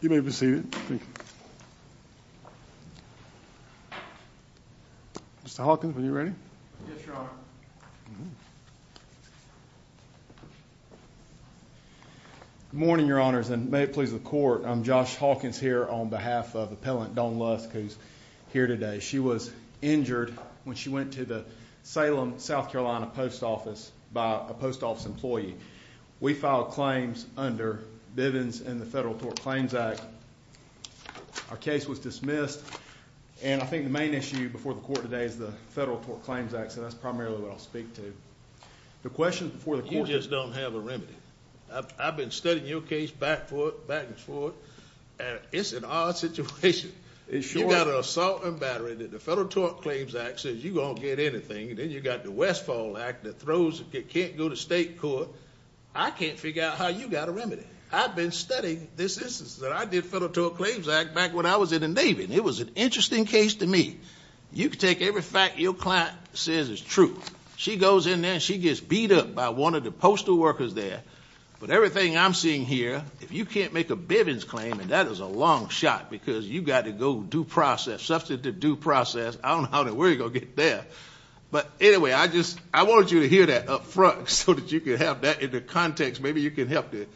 You may be seated. Mr. Hawkins, when you're ready. Yes, your honor. Good morning, your honors, and may it please the court. I'm Josh Hawkins here on behalf of appellant Dawn Lusk, who's here today. She was injured when she went to the Salem, South Carolina, post office by a post office employee. We filed claims under Bivens and the Federal Tort Claims Act. Our case was dismissed, and I think the main issue before the court today is the Federal Tort Claims Act, so that's primarily what I'll speak to. The question before the court is... You just don't have a remedy. I've been studying your case back and forth, and it's an odd situation. You've got an assault and battery that the Federal Tort Claims Act says you're going to get anything, and then you've got the Westfall Act that can't go to state court. I can't figure out how you got a remedy. I've been studying this instance. I did Federal Tort Claims Act back when I was in the Navy, and it was an interesting case to me. You can take every fact your client says is true. She goes in there, and she gets beat up by one of the postal workers there, but everything I'm seeing here, if you can't make a Bivens claim, and that is a long shot, because you've got to go due process, substantive due process. I don't know where you're going to get there. But anyway, I wanted you to hear that up front so that you could have that in the context. Maybe you can help to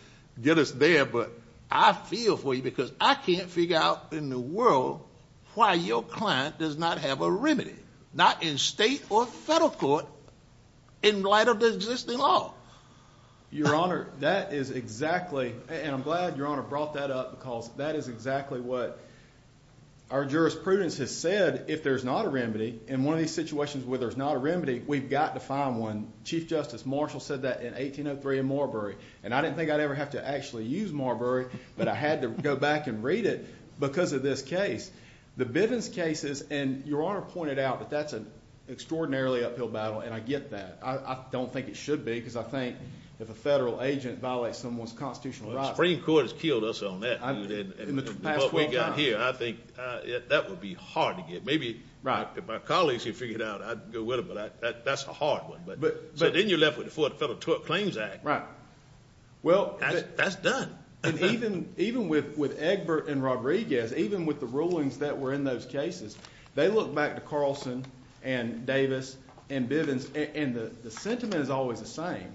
get us there, but I feel for you because I can't figure out in the world why your client does not have a remedy, not in state or federal court, in light of the existing law. Your Honor, that is exactly, and I'm glad your Honor brought that up because that is exactly what our jurisprudence has said. If there's not a remedy, in one of these situations where there's not a remedy, we've got to find one. Chief Justice Marshall said that in 1803 in Marbury, and I didn't think I'd ever have to actually use Marbury, but I had to go back and read it because of this case. The Bivens cases, and your Honor pointed out that that's an extraordinarily uphill battle, and I get that. I don't think it should be because I think if a federal agent violates someone's constitutional rights— What we've got here, I think that would be hard to get. Maybe if my colleagues could figure it out, I'd go with them, but that's a hard one. But then you're left with the Fourth Federal Tort Claims Act. That's done. Even with Egbert and Rodriguez, even with the rulings that were in those cases, they look back to Carlson and Davis and Bivens, and the sentiment is always the same.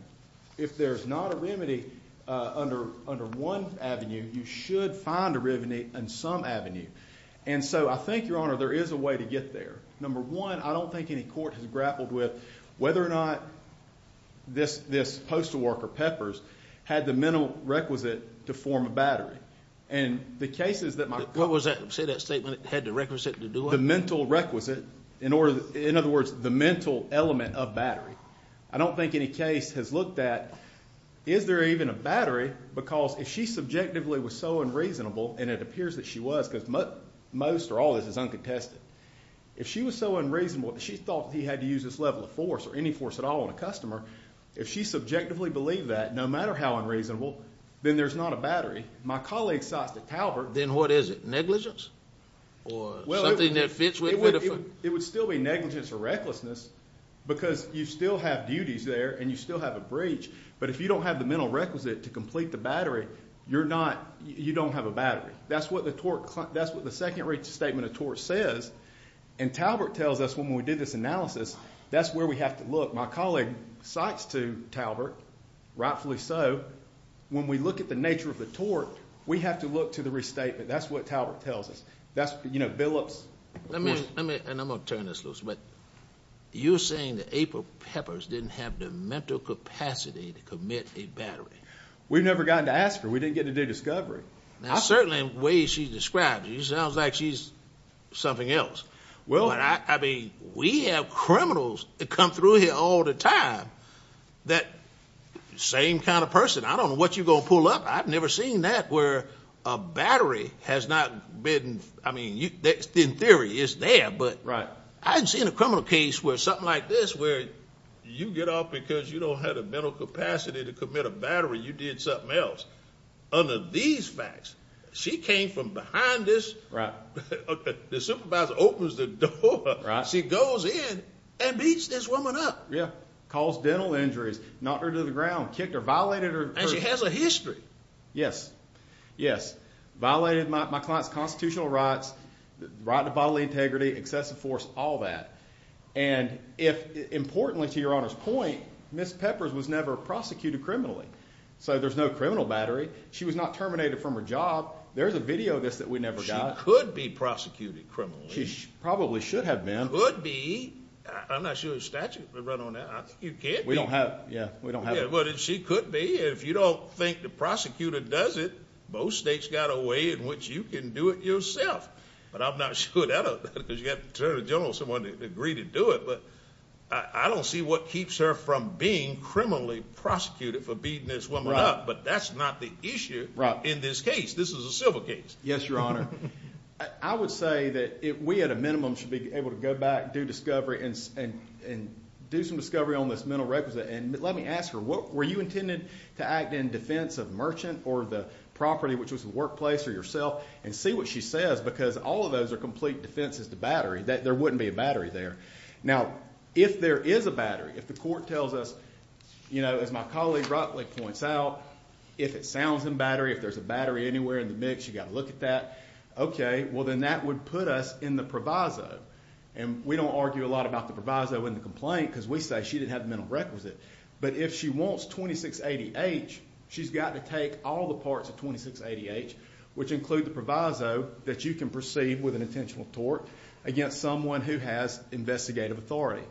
If there's not a remedy under one avenue, you should find a remedy in some avenue. And so I think, Your Honor, there is a way to get there. Number one, I don't think any court has grappled with whether or not this postal worker, Peppers, had the mental requisite to form a battery. And the cases that my— What was that? Say that statement, had the requisite to do it. The mental requisite, in other words, the mental element of battery. I don't think any case has looked at, is there even a battery? Because if she subjectively was so unreasonable, and it appears that she was, because most or all of this is uncontested, if she was so unreasonable that she thought that he had to use this level of force or any force at all on a customer, if she subjectively believed that, no matter how unreasonable, then there's not a battery. My colleague cites the Talbert— Then what is it, negligence? Or something that fits with Biddeford? It would still be negligence or recklessness because you still have duties there and you still have a breach. But if you don't have the mental requisite to complete the battery, you don't have a battery. That's what the second rate statement of tort says. And Talbert tells us when we did this analysis, that's where we have to look. My colleague cites to Talbert, rightfully so, when we look at the nature of the tort, we have to look to the restatement. That's what Talbert tells us. Let me—and I'm going to turn this loose. But you're saying that April Peppers didn't have the mental capacity to commit a battery. We've never gotten to ask her. We didn't get to do discovery. Now, certainly in ways she's described, she sounds like she's something else. Well— I mean, we have criminals that come through here all the time, that same kind of person. I don't know what you're going to pull up. I've never seen that where a battery has not been—I mean, in theory, it's there. But I haven't seen a criminal case where something like this, where you get off because you don't have the mental capacity to commit a battery. You did something else. Under these facts, she came from behind this. The supervisor opens the door. She goes in and beats this woman up. Caused dental injuries. Knocked her to the ground. Kicked her. Violated her. And she has a history. Yes. Violated my client's constitutional rights, right to bodily integrity, excessive force, all that. And importantly, to Your Honor's point, Ms. Peppers was never prosecuted criminally. So there's no criminal battery. She was not terminated from her job. There's a video of this that we never got. She could be prosecuted criminally. She probably should have been. Could be. I'm not sure the statute would run on that. You can't be. We don't have—yeah, we don't have it. But she could be. If you don't think the prosecutor does it, most states got a way in which you can do it yourself. But I'm not sure that—you have to turn to the general assembly to agree to do it. But I don't see what keeps her from being criminally prosecuted for beating this woman up. Right. But that's not the issue in this case. This is a civil case. Yes, Your Honor. I would say that we at a minimum should be able to go back, do discovery, and do some discovery on this mental representative. And let me ask her, were you intended to act in defense of merchant or the property, which was the workplace, or yourself? And see what she says, because all of those are complete defenses to battery. There wouldn't be a battery there. Now, if there is a battery, if the court tells us, you know, as my colleague Rockley points out, if it sounds in battery, if there's a battery anywhere in the mix, you've got to look at that. Okay. Well, then that would put us in the proviso. And we don't argue a lot about the proviso in the complaint because we say she didn't have the mental requisite. But if she wants 2680-H, she's got to take all the parts of 2680-H, which include the proviso that you can proceed with an intentional tort against someone who has investigative authority.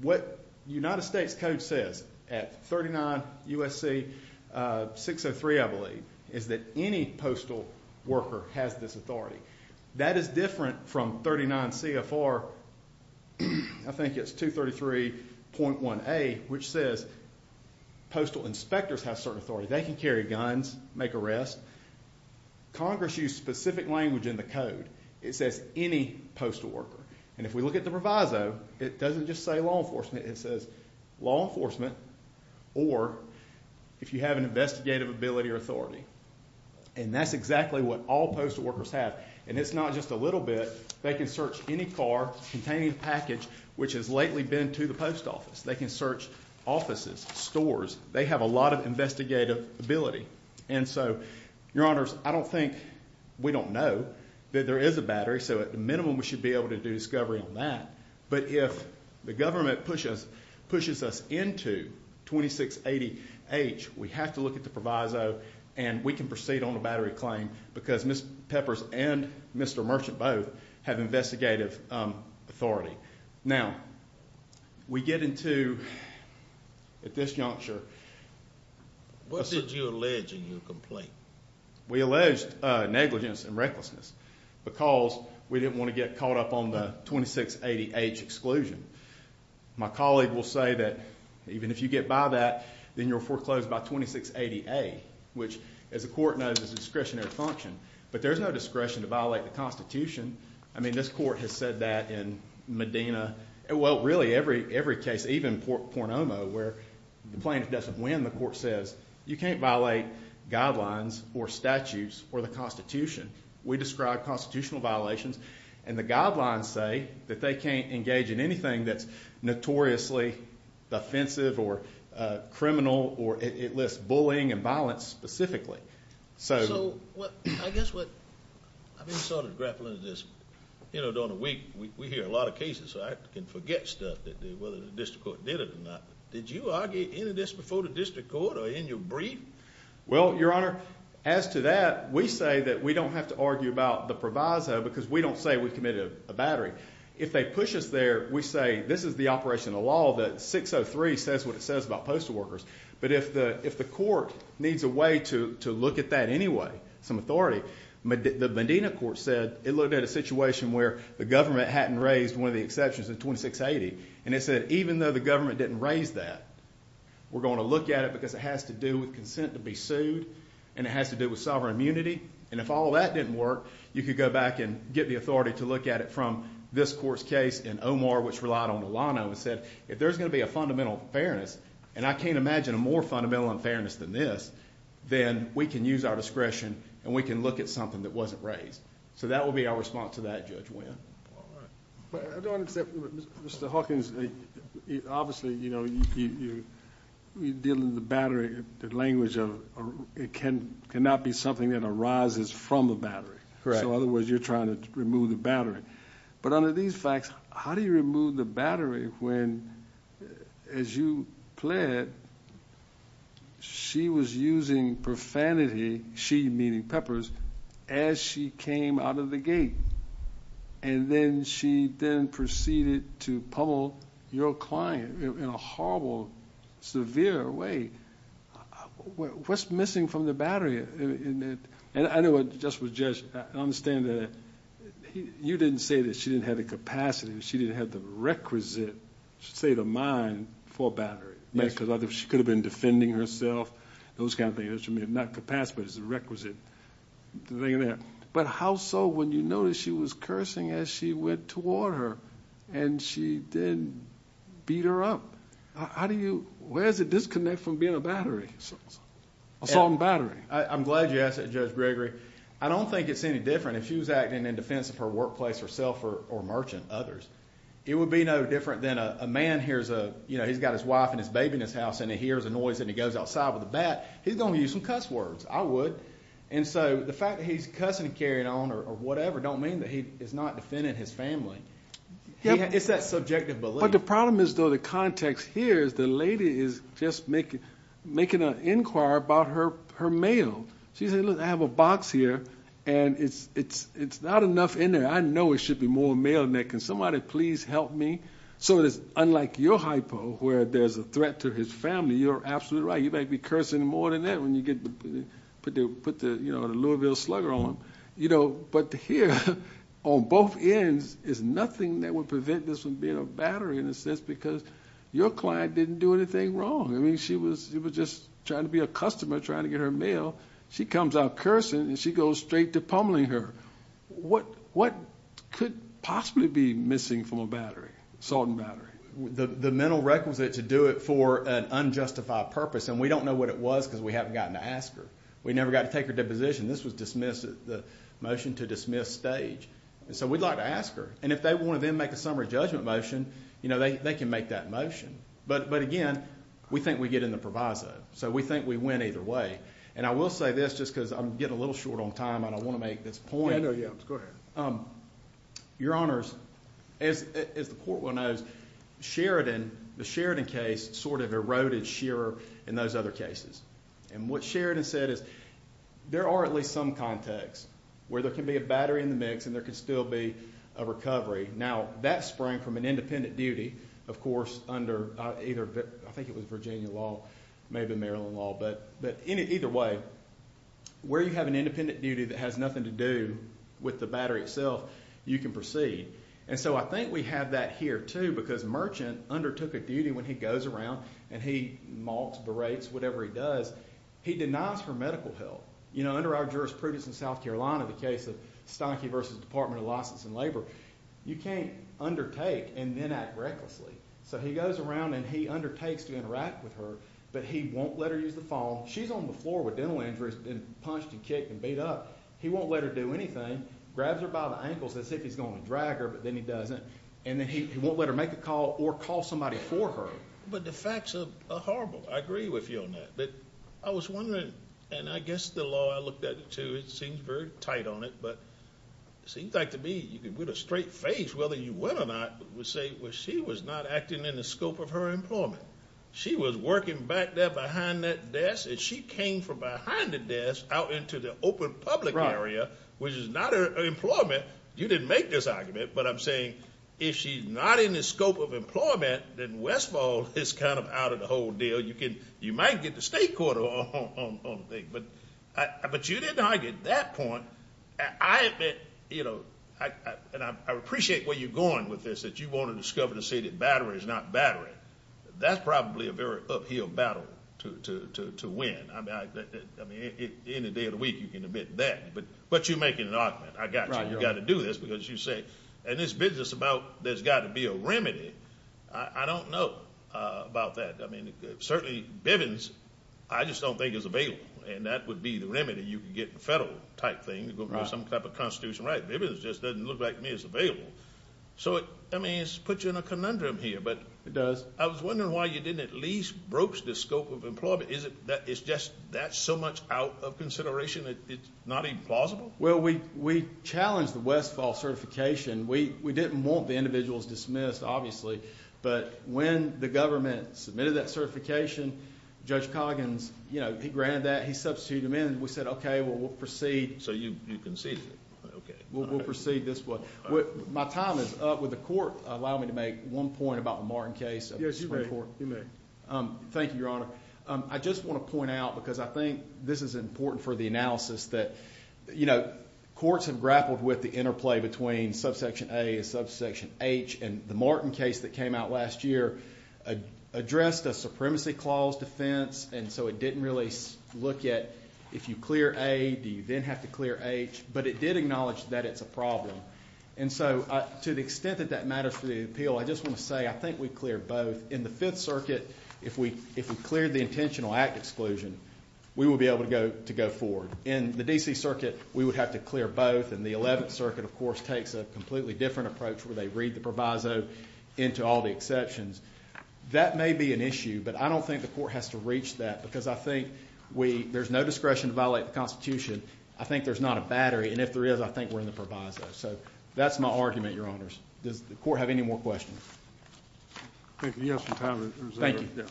What the United States Code says at 39 U.S.C. 603, I believe, is that any postal worker has this authority. That is different from 39 CFR, I think it's 233.1A, which says postal inspectors have certain authority. They can carry guns, make arrests. Congress used specific language in the code. It says any postal worker. And if we look at the proviso, it doesn't just say law enforcement. It says law enforcement or if you have an investigative ability or authority. And that's exactly what all postal workers have. And it's not just a little bit. They can search any car containing a package which has lately been to the post office. They can search offices, stores. They have a lot of investigative ability. And so, Your Honors, I don't think we don't know that there is a battery, so at the minimum we should be able to do discovery on that. But if the government pushes us into 2680H, we have to look at the proviso, and we can proceed on a battery claim because Ms. Peppers and Mr. Merchant both have investigative authority. Now, we get into at this juncture. What did you allege in your complaint? We alleged negligence and recklessness because we didn't want to get caught up on the 2680H exclusion. My colleague will say that even if you get by that, then you're foreclosed by 2680A, which, as the court knows, is discretionary function. But there's no discretion to violate the Constitution. I mean, this court has said that in Medina. Well, really every case, even Pornoma, where the plaintiff doesn't win, the court says you can't violate guidelines or statutes or the Constitution. We describe constitutional violations, and the guidelines say that they can't engage in anything that's notoriously offensive or criminal or it lists bullying and violence specifically. So, I guess what I'm sort of grappling with this. You know, during the week we hear a lot of cases, so I can forget stuff whether the district court did it or not. Did you argue any of this before the district court or in your brief? Well, Your Honor, as to that, we say that we don't have to argue about the proviso because we don't say we committed a battery. If they push us there, we say this is the operation of the law, that 603 says what it says about postal workers. But if the court needs a way to look at that anyway, some authority, the Medina court said it looked at a situation where the government hadn't raised one of the exceptions of 2680. And it said even though the government didn't raise that, we're going to look at it because it has to do with consent to be sued and it has to do with sovereign immunity. And if all that didn't work, you could go back and get the authority to look at it from this court's case and Omar, which relied on Milano, and said if there's going to be a fundamental unfairness, and I can't imagine a more fundamental unfairness than this, then we can use our discretion and we can look at something that wasn't raised. So that will be our response to that, Judge Winn. I don't accept Mr. Hawkins, obviously, you know, you're dealing with the battery, the language of it cannot be something that arises from a battery. Correct. So in other words, you're trying to remove the battery. But under these facts, how do you remove the battery when, as you pled, she was using profanity, she meaning Peppers, as she came out of the gate? And then she then proceeded to pummel your client in a horrible, severe way. What's missing from the battery? And I know what just was judged. I understand that you didn't say that she didn't have the capacity, she didn't have the requisite state of mind for a battery. Yes. Because she could have been defending herself, those kind of things. I mean, not capacity, but it's a requisite. But how so when you notice she was cursing as she went toward her, and she then beat her up? How do you... where's the disconnect from being a battery, assault and battery? I'm glad you asked that, Judge Gregory. I don't think it's any different if she was acting in defense of her workplace herself or merchant, others. It would be no different than a man hears a, you know, he's got his wife and his baby in his house, and he hears a noise and he goes outside with a bat. He's going to use some cuss words. I would. And so the fact that he's cussing and carrying on or whatever don't mean that he is not defending his family. It's that subjective belief. But the problem is, though, the context here is the lady is just making an inquiry about her mail. She said, look, I have a box here, and it's not enough in there. I know it should be more mail in there. Can somebody please help me? So it is unlike your hypo where there's a threat to his family. You're absolutely right. You might be cursing more than that when you put the Louisville Slugger on. But here, on both ends, there's nothing that would prevent this from being a battery in a sense because your client didn't do anything wrong. I mean, she was just trying to be a customer, trying to get her mail. She comes out cursing, and she goes straight to pummeling her. What could possibly be missing from a battery, assault and battery? The mental requisite to do it for an unjustified purpose, and we don't know what it was because we haven't gotten to ask her. We never got to take her deposition. This was dismissed at the motion-to-dismiss stage. So we'd like to ask her. And if they want to then make a summary judgment motion, they can make that motion. But, again, we think we get in the proviso, so we think we win either way. And I will say this just because I'm getting a little short on time, and I want to make this point. Yeah, go ahead. Your Honors, as the court will know, Sheridan, the Sheridan case, sort of eroded Shearer in those other cases. And what Sheridan said is there are at least some contexts where there can be a battery in the mix and there can still be a recovery. Now, that sprang from an independent duty, of course, under either I think it was Virginia law, maybe Maryland law, but either way, where you have an independent duty that has nothing to do with the battery itself, you can proceed. And so I think we have that here, too, because Merchant undertook a duty when he goes around and he mocks, berates, whatever he does. He denies her medical help. You know, under our jurisprudence in South Carolina, the case of Stonkey v. Department of License and Labor, you can't undertake and then act recklessly. So he goes around and he undertakes to interact with her, but he won't let her use the phone. She's on the floor with dental injuries and punched and kicked and beat up. He won't let her do anything. Grabs her by the ankles as if he's going to drag her, but then he doesn't. And then he won't let her make a call or call somebody for her. But the facts are horrible. I agree with you on that. But I was wondering, and I guess the law, I looked at it, too. It seems very tight on it, but it seems like to me you can put a straight face, whether you win or not, and say, well, she was not acting in the scope of her employment. She was working back there behind that desk, and she came from behind the desk out into the open public area, which is not her employment. You didn't make this argument, but I'm saying if she's not in the scope of employment, then Westfall is kind of out of the whole deal. You might get the state court on the thing. But you didn't argue at that point. I admit, you know, and I appreciate where you're going with this, that you want to discover to see that battery is not battery. That's probably a very uphill battle to win. I mean, any day of the week you can admit that. But you're making an argument. I got you. You've got to do this because you say, and this business about there's got to be a remedy, I don't know about that. I mean, certainly Bivens, I just don't think is available, and that would be the remedy you could get in the federal type thing, go for some type of constitutional right. Bivens just doesn't look like to me it's available. So, I mean, it puts you in a conundrum here. It does. I was wondering why you didn't at least broach the scope of employment. Is it that it's just that's so much out of consideration that it's not even plausible? Well, we challenged the Westfall certification. We didn't want the individuals dismissed, obviously. But when the government submitted that certification, Judge Coggins, you know, he granted that, he substituted them in, and we said, okay, well, we'll proceed. So you conceded. Okay. We'll proceed this way. My time is up. Would the court allow me to make one point about the Martin case? Yes, you may. Thank you, Your Honor. I just want to point out because I think this is important for the analysis that, you know, courts have grappled with the interplay between subsection A and subsection H, and the Martin case that came out last year addressed a supremacy clause defense, and so it didn't really look at if you clear A, do you then have to clear H? But it did acknowledge that it's a problem. And so to the extent that that matters for the appeal, I just want to say I think we cleared both. In the Fifth Circuit, if we cleared the intentional act exclusion, we would be able to go forward. In the D.C. Circuit, we would have to clear both, and the Eleventh Circuit, of course, takes a completely different approach where they read the proviso into all the exceptions. That may be an issue, but I don't think the court has to reach that because I think there's no discretion to violate the Constitution. I think there's not a battery, and if there is, I think we're in the proviso. So that's my argument, Your Honors. Does the court have any more questions? I think we have some time. Thank you.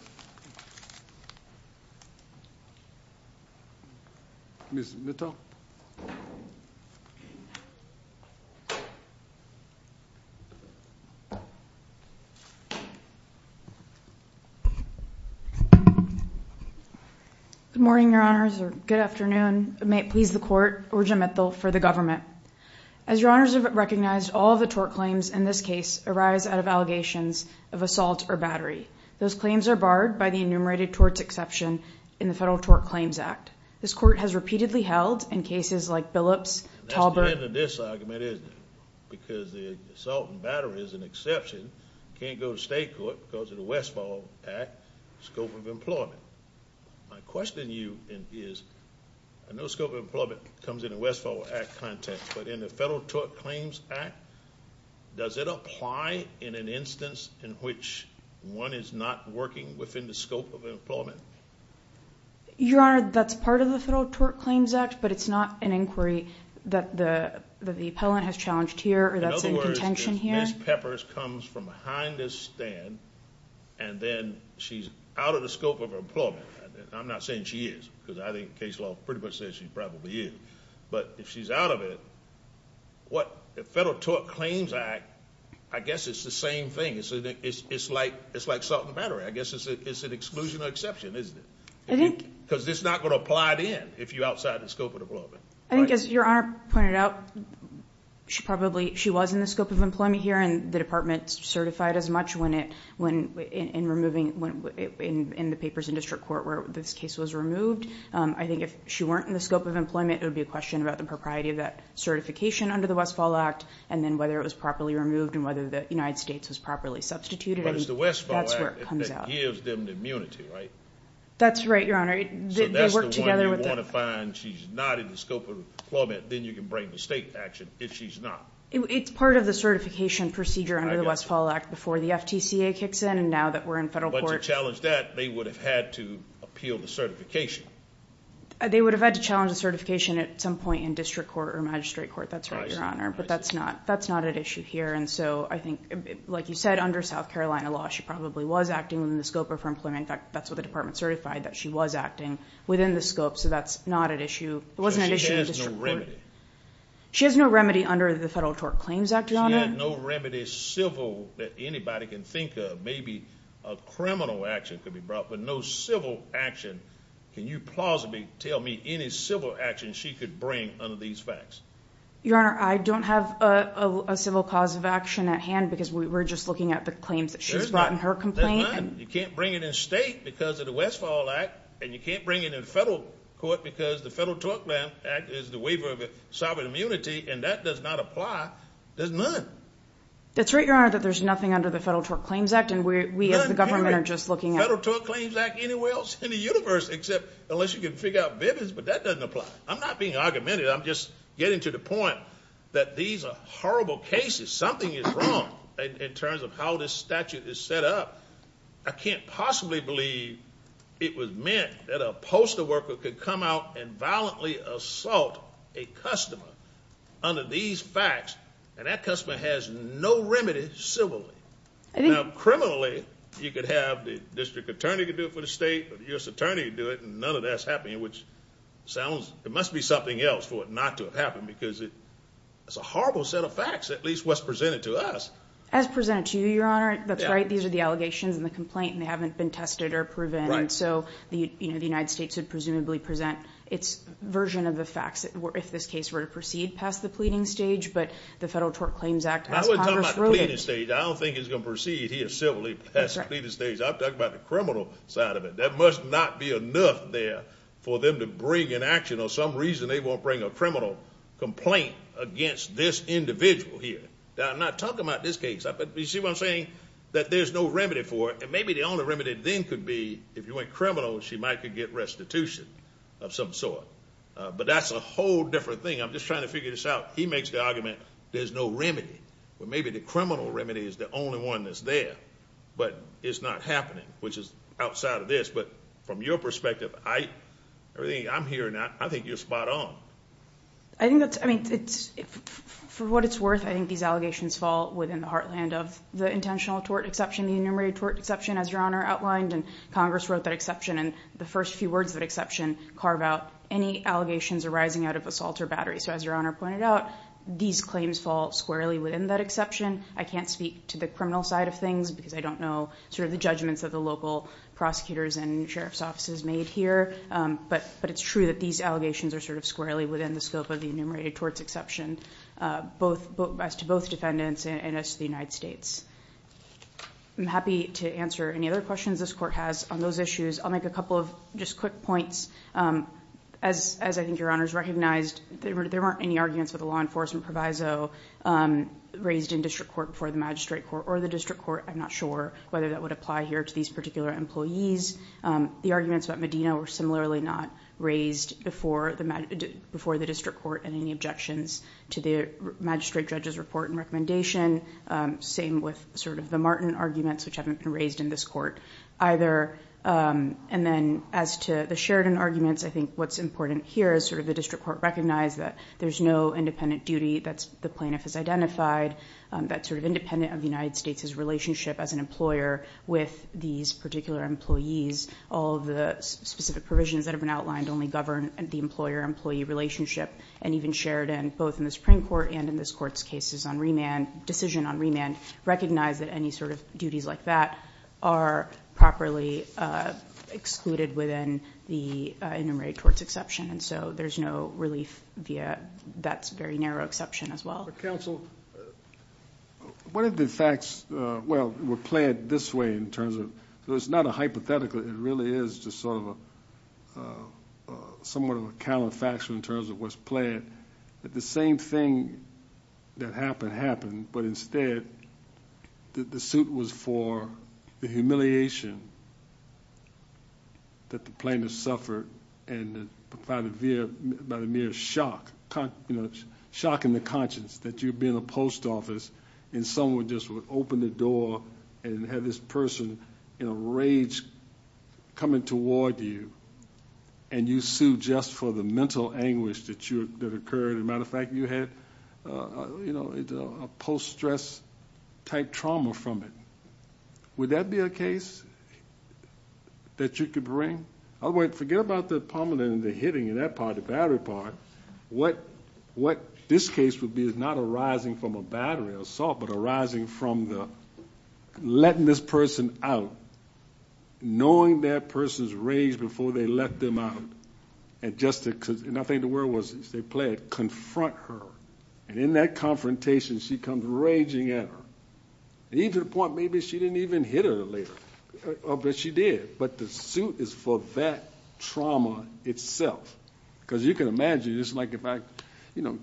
Ms. Mittal? Good morning, Your Honors, or good afternoon. May it please the Court, Orgen Mittal for the government. As Your Honors have recognized, all of the tort claims in this case arise out of allegations of assault or battery. Those claims are barred by the enumerated torts exception in the Federal Tort Claims Act. This Court has repeatedly held in cases like Billups, Talbert. That's the end of this argument, isn't it? Because the assault and battery is an exception, can't go to state court because of the Westfall Act scope of employment. My question to you is, I know scope of employment comes in the Westfall Act context, but in the Federal Tort Claims Act, does it apply in an instance in which one is not working within the scope of employment? Your Honor, that's part of the Federal Tort Claims Act, but it's not an inquiry that the appellant has challenged here or that's in contention here. In other words, if Ms. Peppers comes from behind this stand and then she's out of the scope of employment, I'm not saying she is because I think case law pretty much says she probably is, but if she's out of it, what the Federal Tort Claims Act, I guess it's the same thing. It's like assault and battery. I guess it's an exclusion or exception, isn't it? Because it's not going to apply then if you're outside the scope of employment. I think as Your Honor pointed out, she probably was in the scope of employment here and the department certified as much in the papers in district court where this case was removed. I think if she weren't in the scope of employment, it would be a question about the propriety of that certification under the Westfall Act and then whether it was properly removed and whether the United States was properly substituted. But it's the Westfall Act that gives them the immunity, right? That's right, Your Honor. So that's the one you want to find, she's not in the scope of employment, then you can bring the state action if she's not. It's part of the certification procedure under the Westfall Act before the FTCA kicks in and now that we're in federal court. But to challenge that, they would have had to appeal the certification. They would have had to challenge the certification at some point in district court or magistrate court, that's right, Your Honor. But that's not at issue here. And so I think, like you said, under South Carolina law, she probably was acting within the scope of her employment. In fact, that's what the department certified, that she was acting within the scope. So that's not at issue. It wasn't at issue in district court. Because she has no remedy. She has no remedy under the Federal Tort Claims Act, Your Honor. She has no remedy civil that anybody can think of. Maybe a criminal action could be brought, but no civil action. Can you plausibly tell me any civil action she could bring under these facts? Your Honor, I don't have a civil cause of action at hand because we're just looking at the claims that she's brought in her complaint. There's none. You can't bring it in state because of the Westfall Act and you can't bring it in federal court because the Federal Tort Claims Act is the waiver of sovereign immunity, and that does not apply. There's none. That's right, Your Honor, that there's nothing under the Federal Tort Claims Act, and we as the government are just looking at it. There's none in the Federal Tort Claims Act anywhere else in the universe, except unless you can figure out vivids, but that doesn't apply. I'm not being argumentative. I'm just getting to the point that these are horrible cases. Something is wrong in terms of how this statute is set up. I can't possibly believe it was meant that a postal worker could come out and violently assault a customer under these facts, and that customer has no remedy civilly. Now, criminally, you could have the district attorney do it for the state or the U.S. attorney do it, and none of that's happening, which sounds there must be something else for it not to have happened because it's a horrible set of facts, at least what's presented to us. As presented to you, Your Honor, that's right. These are the allegations in the complaint, and they haven't been tested or proven. And so the United States would presumably present its version of the facts if this case were to proceed past the pleading stage, but the Federal Tort Claims Act as Congress wrote it. I wasn't talking about the pleading stage. I don't think it's going to proceed here civilly past the pleading stage. I'm talking about the criminal side of it. There must not be enough there for them to bring an action, or some reason they won't bring a criminal complaint against this individual here. I'm not talking about this case. You see what I'm saying? I think that there's no remedy for it. And maybe the only remedy then could be if you went criminal, she might could get restitution of some sort. But that's a whole different thing. I'm just trying to figure this out. He makes the argument there's no remedy. Well, maybe the criminal remedy is the only one that's there, but it's not happening, which is outside of this. But from your perspective, I'm hearing that. I think you're spot on. I think that's, I mean, for what it's worth, I think these allegations fall within the heartland of the intentional tort exception, the enumerated tort exception, as Your Honor outlined. And Congress wrote that exception. And the first few words of that exception carve out any allegations arising out of assault or battery. So as Your Honor pointed out, these claims fall squarely within that exception. I can't speak to the criminal side of things, because I don't know sort of the judgments of the local prosecutors and sheriff's offices made here. But it's true that these allegations are sort of squarely within the scope of the enumerated tort exception, as to both defendants and as to the United States. I'm happy to answer any other questions this court has on those issues. I'll make a couple of just quick points. As I think Your Honors recognized, there weren't any arguments with the law enforcement proviso raised in district court before the magistrate court or the district court. I'm not sure whether that would apply here to these particular employees. The arguments about Medina were similarly not raised before the district court in any objections to the magistrate judge's report and recommendation. Same with sort of the Martin arguments, which haven't been raised in this court either. And then as to the Sheridan arguments, I think what's important here is sort of the district court recognized that there's no independent duty that the plaintiff has identified, that's sort of independent of the United States' relationship as an employer with these particular employees. All of the specific provisions that have been outlined only govern the employer-employee relationship. And even Sheridan, both in the Supreme Court and in this court's cases on remand, decision on remand, recognize that any sort of duties like that are properly excluded within the enumerated torts exception. And so there's no relief via that very narrow exception as well. But counsel, what are the facts? Well, we'll play it this way in terms of, though it's not a hypothetical, it really is just sort of a somewhat of a counterfactual in terms of what's played, that the same thing that happened happened, but instead the suit was for the humiliation that the plaintiff suffered and provided by the mere shock, you know, shock in the conscience that you'd be in a post office and someone just would open the door and have this person in a rage coming toward you and you sued just for the mental anguish that occurred. As a matter of fact, you had a post-stress type trauma from it. Would that be a case that you could bring? Otherwise, forget about the pummeling and the hitting and that part, the battery part. What this case would be is not arising from a battery assault, but arising from the letting this person out, knowing that person's rage before they let them out. And I think the word was, as they play it, confront her. And in that confrontation, she comes raging at her. Even to the point maybe she didn't even hit her later. But she did. But the suit is for that trauma itself. Because you can imagine, it's like if I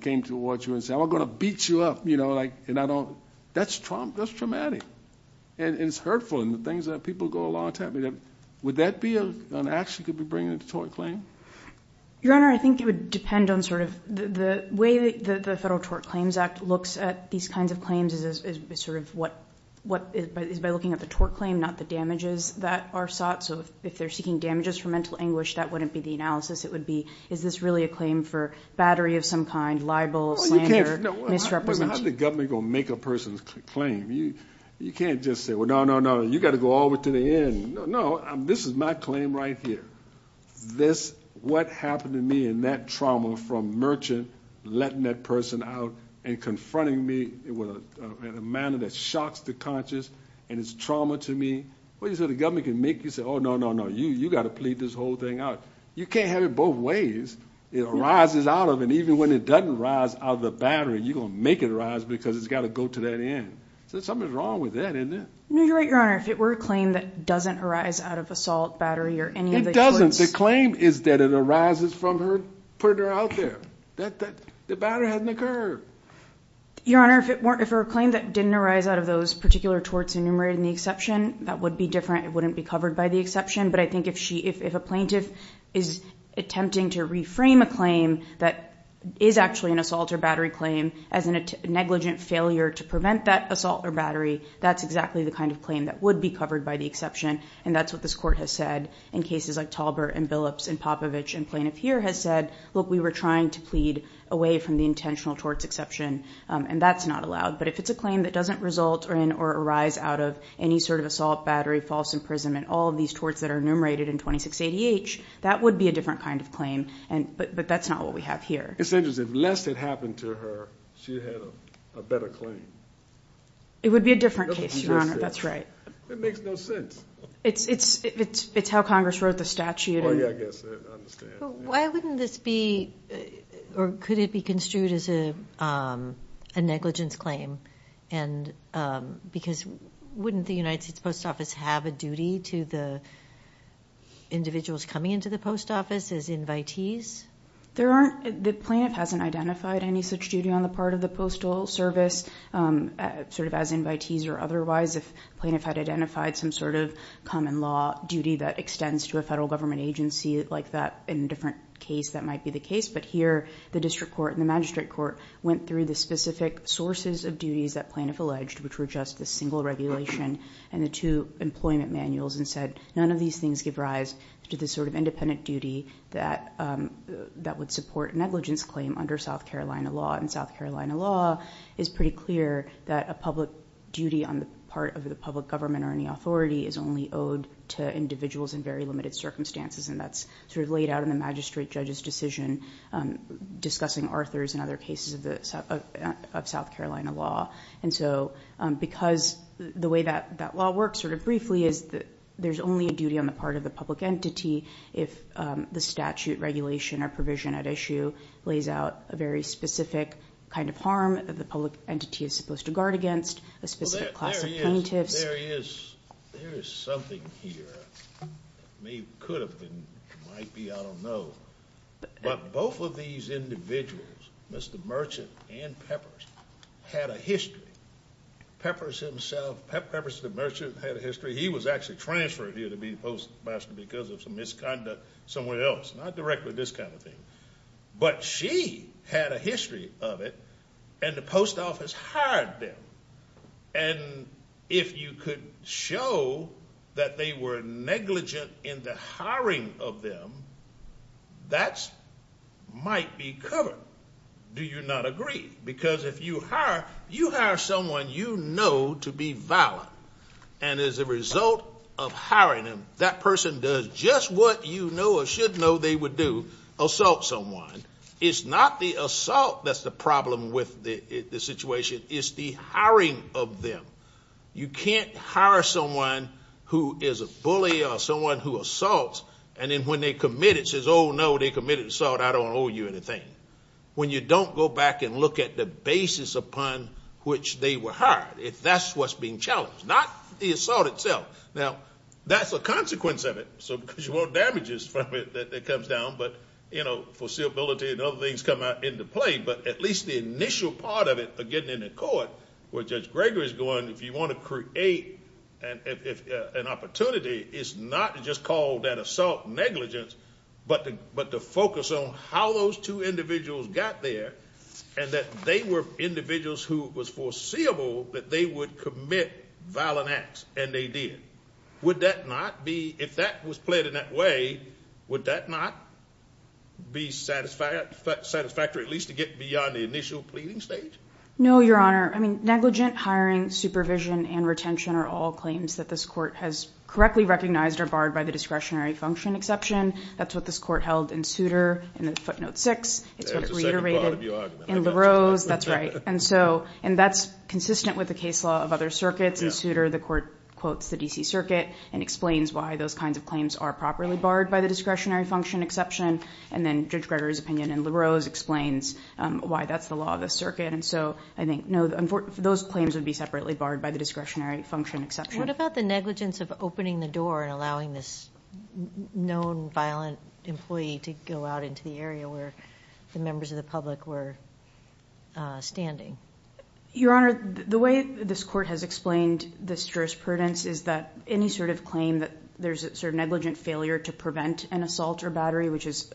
came towards you and said, I'm going to beat you up, you know, and I don't. That's traumatic. And it's hurtful and the things that people go along and tell me. Would that be an act she could be bringing in the tort claim? Your Honor, I think it would depend on sort of the way the Federal Tort Claims Act looks at these kinds of claims is by looking at the tort claim, not the damages that are sought. So if they're seeking damages for mental anguish, that wouldn't be the analysis. It would be, is this really a claim for battery of some kind, libel, slander, misrepresentation? How's the government going to make a person's claim? You can't just say, well, no, no, no, you've got to go all the way to the end. No, this is my claim right here. What happened to me in that trauma from merchant letting that person out and confronting me in a manner that shocks the conscious and is trauma to me. What do you say the government can make? You can say, oh, no, no, no, you've got to plead this whole thing out. You can't have it both ways. It arises out of it. Even when it doesn't arise out of the battery, you're going to make it arise because it's got to go to that end. Something's wrong with that, isn't it? You're right, Your Honor. If it were a claim that doesn't arise out of assault, battery, or any of the torts. It doesn't. The claim is that it arises from her putting her out there. The battery hasn't occurred. Your Honor, if it were a claim that didn't arise out of those particular torts enumerated in the exception, that would be different. It wouldn't be covered by the exception. But I think if a plaintiff is attempting to reframe a claim that is actually an assault or battery claim as a negligent failure to prevent that assault or battery, that's exactly the kind of claim that would be covered by the exception. And that's what this court has said in cases like Talbert and Billups and Popovich. And plaintiff here has said, look, we were trying to plead away from the intentional torts exception. And that's not allowed. But if it's a claim that doesn't result in or arise out of any sort of assault, battery, false imprisonment, all of these torts that are enumerated in 26 ADH, that would be a different kind of claim. But that's not what we have here. It's interesting. Lest it happened to her, she had a better claim. It would be a different case, Your Honor. That's right. It makes no sense. It's how Congress wrote the statute. Oh, yeah, I guess. I understand. Why wouldn't this be, or could it be construed as a negligence claim? Because wouldn't the United States Post Office have a duty to the individuals coming into the post office as invitees? The plaintiff hasn't identified any such duty on the part of the postal service sort of as invitees or otherwise. If the plaintiff had identified some sort of common law duty that extends to a federal government agency like that in a different case, that might be the case. But here the district court and the magistrate court went through the specific sources of duties that plaintiff alleged, which were just the single regulation and the two employment manuals, and said none of these things give rise to this sort of independent duty that would support negligence claim under South Carolina law. And South Carolina law is pretty clear that a public duty on the part of the public government or any authority is only owed to individuals in very limited circumstances. And that's sort of laid out in the magistrate judge's decision discussing Arthur's and other cases of South Carolina law. And so because the way that law works sort of briefly is that there's only a duty on the part of the public entity if the statute regulation or provision at issue lays out a very specific kind of harm that the public entity is supposed to guard against, a specific class of plaintiffs. There is something here. It could have been, it might be, I don't know. But both of these individuals, Mr. Merchant and Peppers, had a history. Peppers himself, Peppers the merchant, had a history. He was actually transferred here to be postmaster because of some misconduct somewhere else, not directly this kind of thing. But she had a history of it, and the post office hired them. And if you could show that they were negligent in the hiring of them, that might be covered. Do you not agree? Because if you hire someone you know to be valid, and as a result of hiring them, that person does just what you know or should know they would do, assault someone. It's not the assault that's the problem with the situation. It's the hiring of them. You can't hire someone who is a bully or someone who assaults, and then when they commit it says, oh, no, they committed assault, I don't owe you anything. When you don't go back and look at the basis upon which they were hired, that's what's being challenged, not the assault itself. Now, that's a consequence of it, because you want damages from it that comes down, but foreseeability and other things come out into play. But at least the initial part of it, again, in the court, where Judge Gregory is going, if you want to create an opportunity, it's not to just call that assault negligence, but to focus on how those two individuals got there and that they were individuals who it was foreseeable that they would commit violent acts, and they did. Would that not be, if that was played in that way, would that not be satisfactory, at least to get beyond the initial pleading stage? No, Your Honor. I mean, negligent hiring, supervision, and retention are all claims that this court has correctly recognized or barred by the discretionary function exception. That's what this court held in Souter in the footnote 6. That's what it reiterated in LaRose. That's right. And that's consistent with the case law of other circuits. In Souter, the court quotes the D.C. Circuit and explains why those kinds of claims are properly barred by the discretionary function exception. And then Judge Gregory's opinion in LaRose explains why that's the law of the circuit. And so I think those claims would be separately barred by the discretionary function exception. What about the negligence of opening the door and allowing this known violent employee to go out into the area where the members of the public were standing? Your Honor, the way this court has explained this jurisprudence is that any sort of claim that there's a sort of negligent failure to prevent an assault or battery, which is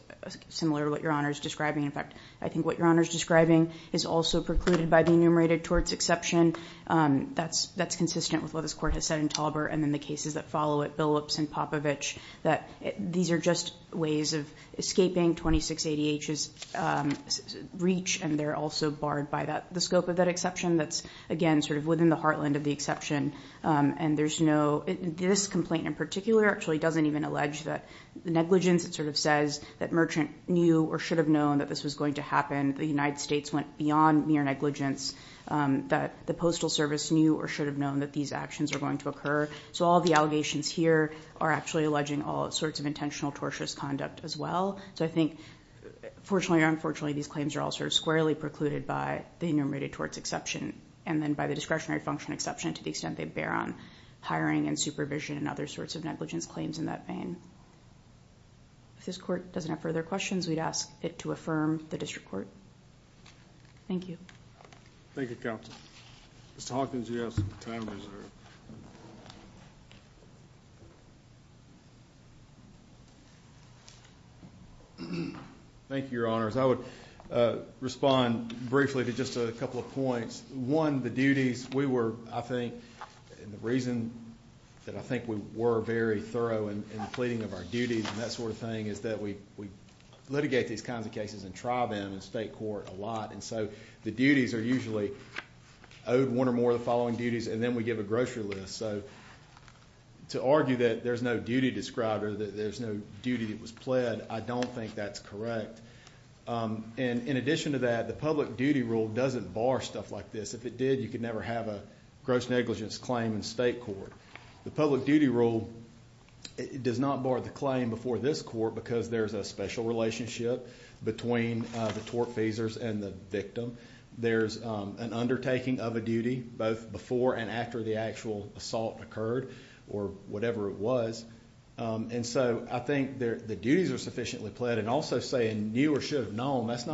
similar to what Your Honor is describing. In fact, I think what Your Honor is describing is also precluded by the enumerated torts exception. That's consistent with what this court has said in Tolbert and in the cases that follow it, Billups and Popovich, that these are just ways of escaping 26 ADH's reach and they're also barred by the scope of that exception. That's, again, sort of within the heartland of the exception. And there's no... This complaint in particular actually doesn't even allege that negligence, it sort of says, that merchant knew or should have known that this was going to happen, the United States went beyond mere negligence, that the Postal Service knew or should have known that these actions were going to occur. So all the allegations here are actually alleging all sorts of intentional tortious conduct as well. So I think, fortunately or unfortunately, these claims are all sort of squarely precluded by the enumerated torts exception and then by the discretionary function exception to the extent they bear on hiring and supervision and other sorts of negligence claims in that vein. If this court doesn't have further questions, we'd ask it to affirm the district court. Thank you. Thank you, Counsel. Mr. Hawkins, you have some time reserved. Thank you, Your Honors. I would respond briefly to just a couple of points. One, the duties we were, I think, and the reason that I think we were very thorough in the pleading of our duties and that sort of thing is that we litigate these kinds of cases and try them in state court a lot. And so the duties are usually owed one or more of the following duties and then we give a grocery list. So to argue that there's no duty described or that there's no duty that was pled, I don't think that's correct. And in addition to that, the public duty rule doesn't bar stuff like this. If it did, you could never have a gross negligence claim in state court. The public duty rule does not bar the claim before this court because there's a special relationship between the tortfeasors and the victim. There's an undertaking of a duty both before and after the actual assault occurred or whatever it was. And so I think the duties are sufficiently pled and also saying knew or should have known, that's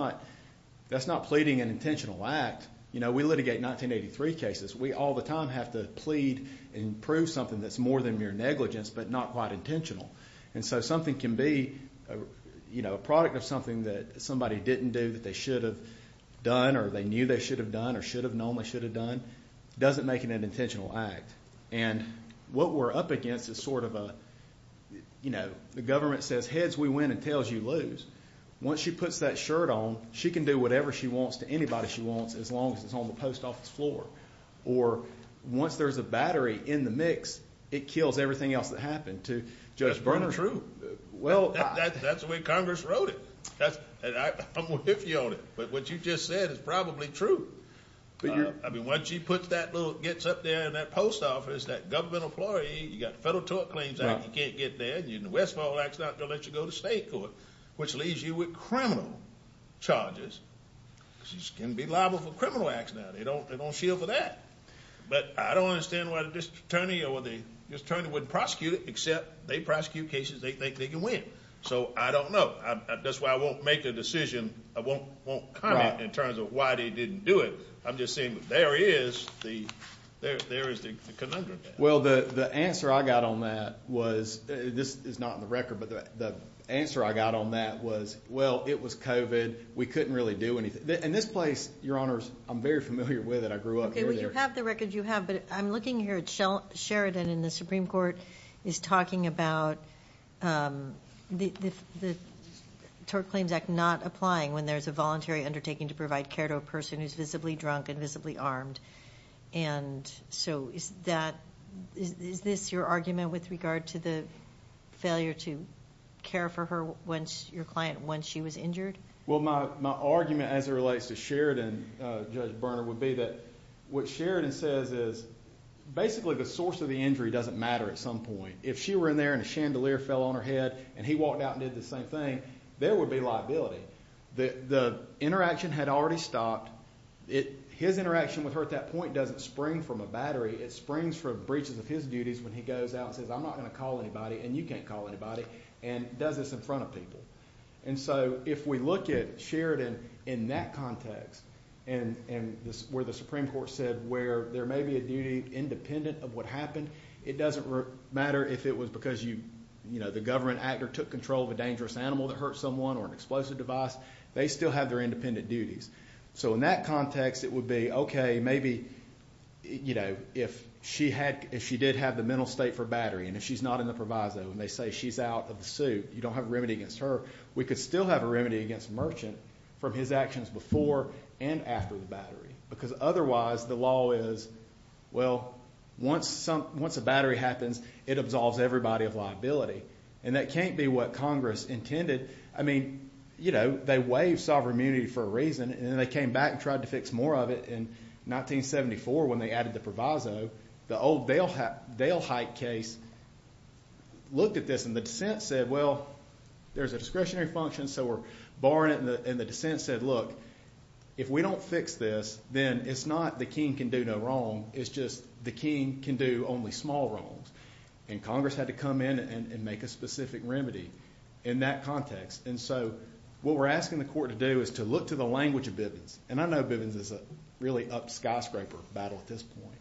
not pleading an intentional act. You know, we litigate 1983 cases. We all the time have to plead and prove something that's more than mere negligence but not quite intentional. And so something can be, you know, a product of something that somebody didn't do that they should have done or they knew they should have done or should have known they should have done doesn't make it an intentional act. And what we're up against is sort of a, you know, the government says heads we win and tails you lose. Once she puts that shirt on, she can do whatever she wants to anybody she wants as long as it's on the post office floor. Or once there's a battery in the mix, it kills everything else that happened to Judge Bernhardt. That's the way Congress wrote it. I'm with you on it. But what you just said is probably true. I mean, once she gets up there in that post office, that government employee, you got the Federal Tort Claims Act, you can't get there, and the Westfall Act's not going to let you go to state court, which leaves you with criminal charges because you can be liable for criminal acts now. They don't shield for that. But I don't understand why the district attorney or the district attorney wouldn't prosecute it except they prosecute cases they think they can win. So I don't know. That's why I won't make a decision. I won't comment in terms of why they didn't do it. I'm just saying there is the conundrum. Well, the answer I got on that was, this is not in the record, but the answer I got on that was, well, it was COVID. We couldn't really do anything. And this place, Your Honors, I'm very familiar with it. I grew up near there. Okay, well, you have the record you have, but I'm looking here at Sheridan, and the Supreme Court is talking about the Tort Claims Act not applying when there's a voluntary undertaking to provide care to a person who's visibly drunk and visibly armed. And so is this your argument with regard to the failure to care for your client once she was injured? Well, my argument as it relates to Sheridan, Judge Berner, would be that what Sheridan says is basically the source of the injury doesn't matter at some point. If she were in there and a chandelier fell on her head and he walked out and did the same thing, there would be liability. The interaction had already stopped. His interaction with her at that point doesn't spring from a battery. It springs from breaches of his duties when he goes out and says, I'm not going to call anybody, and you can't call anybody, and does this in front of people. And so if we look at Sheridan in that context, where the Supreme Court said where there may be a duty independent of what happened, it doesn't matter if it was because the government actor took control of a dangerous animal that hurt someone or an explosive device. They still have their independent duties. So in that context, it would be, okay, maybe if she did have the mental state for battery, and if she's not in the proviso, and they say she's out of the suit, you don't have a remedy against her, we could still have a remedy against Merchant from his actions before and after the battery. Because otherwise, the law is, well, once a battery happens, it absolves everybody of liability. And that can't be what Congress intended. I mean, you know, they waived sovereign immunity for a reason, and then they came back and tried to fix more of it. In 1974, when they added the proviso, the old Dale Height case looked at this, and the dissent said, well, there's a discretionary function, so we're barring it, and the dissent said, look, if we don't fix this, then it's not the king can do no wrong, it's just the king can do only small wrongs. And Congress had to come in and make a specific remedy in that context. And so what we're asking the court to do is to look to the language of Bivens. And I know Bivens is a really up skyscraper battle at this point.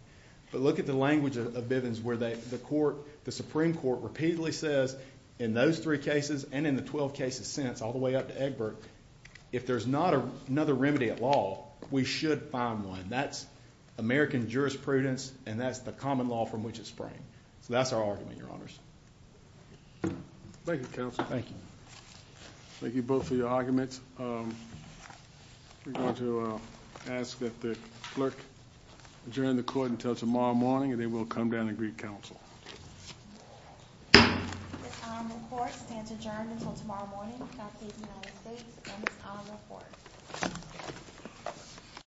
But look at the language of Bivens, where the Supreme Court repeatedly says, in those three cases and in the 12 cases since, all the way up to Egbert, if there's not another remedy at law, we should find one. That's American jurisprudence, and that's the common law from which it sprang. So that's our argument, Your Honors. Thank you, Counsel. Thank you. Thank you both for your arguments. We're going to ask that the clerk adjourn the court until tomorrow morning, and then we'll come down and greet Counsel. It's on the court. It stands adjourned until tomorrow morning. That's the United States, and it's on the court.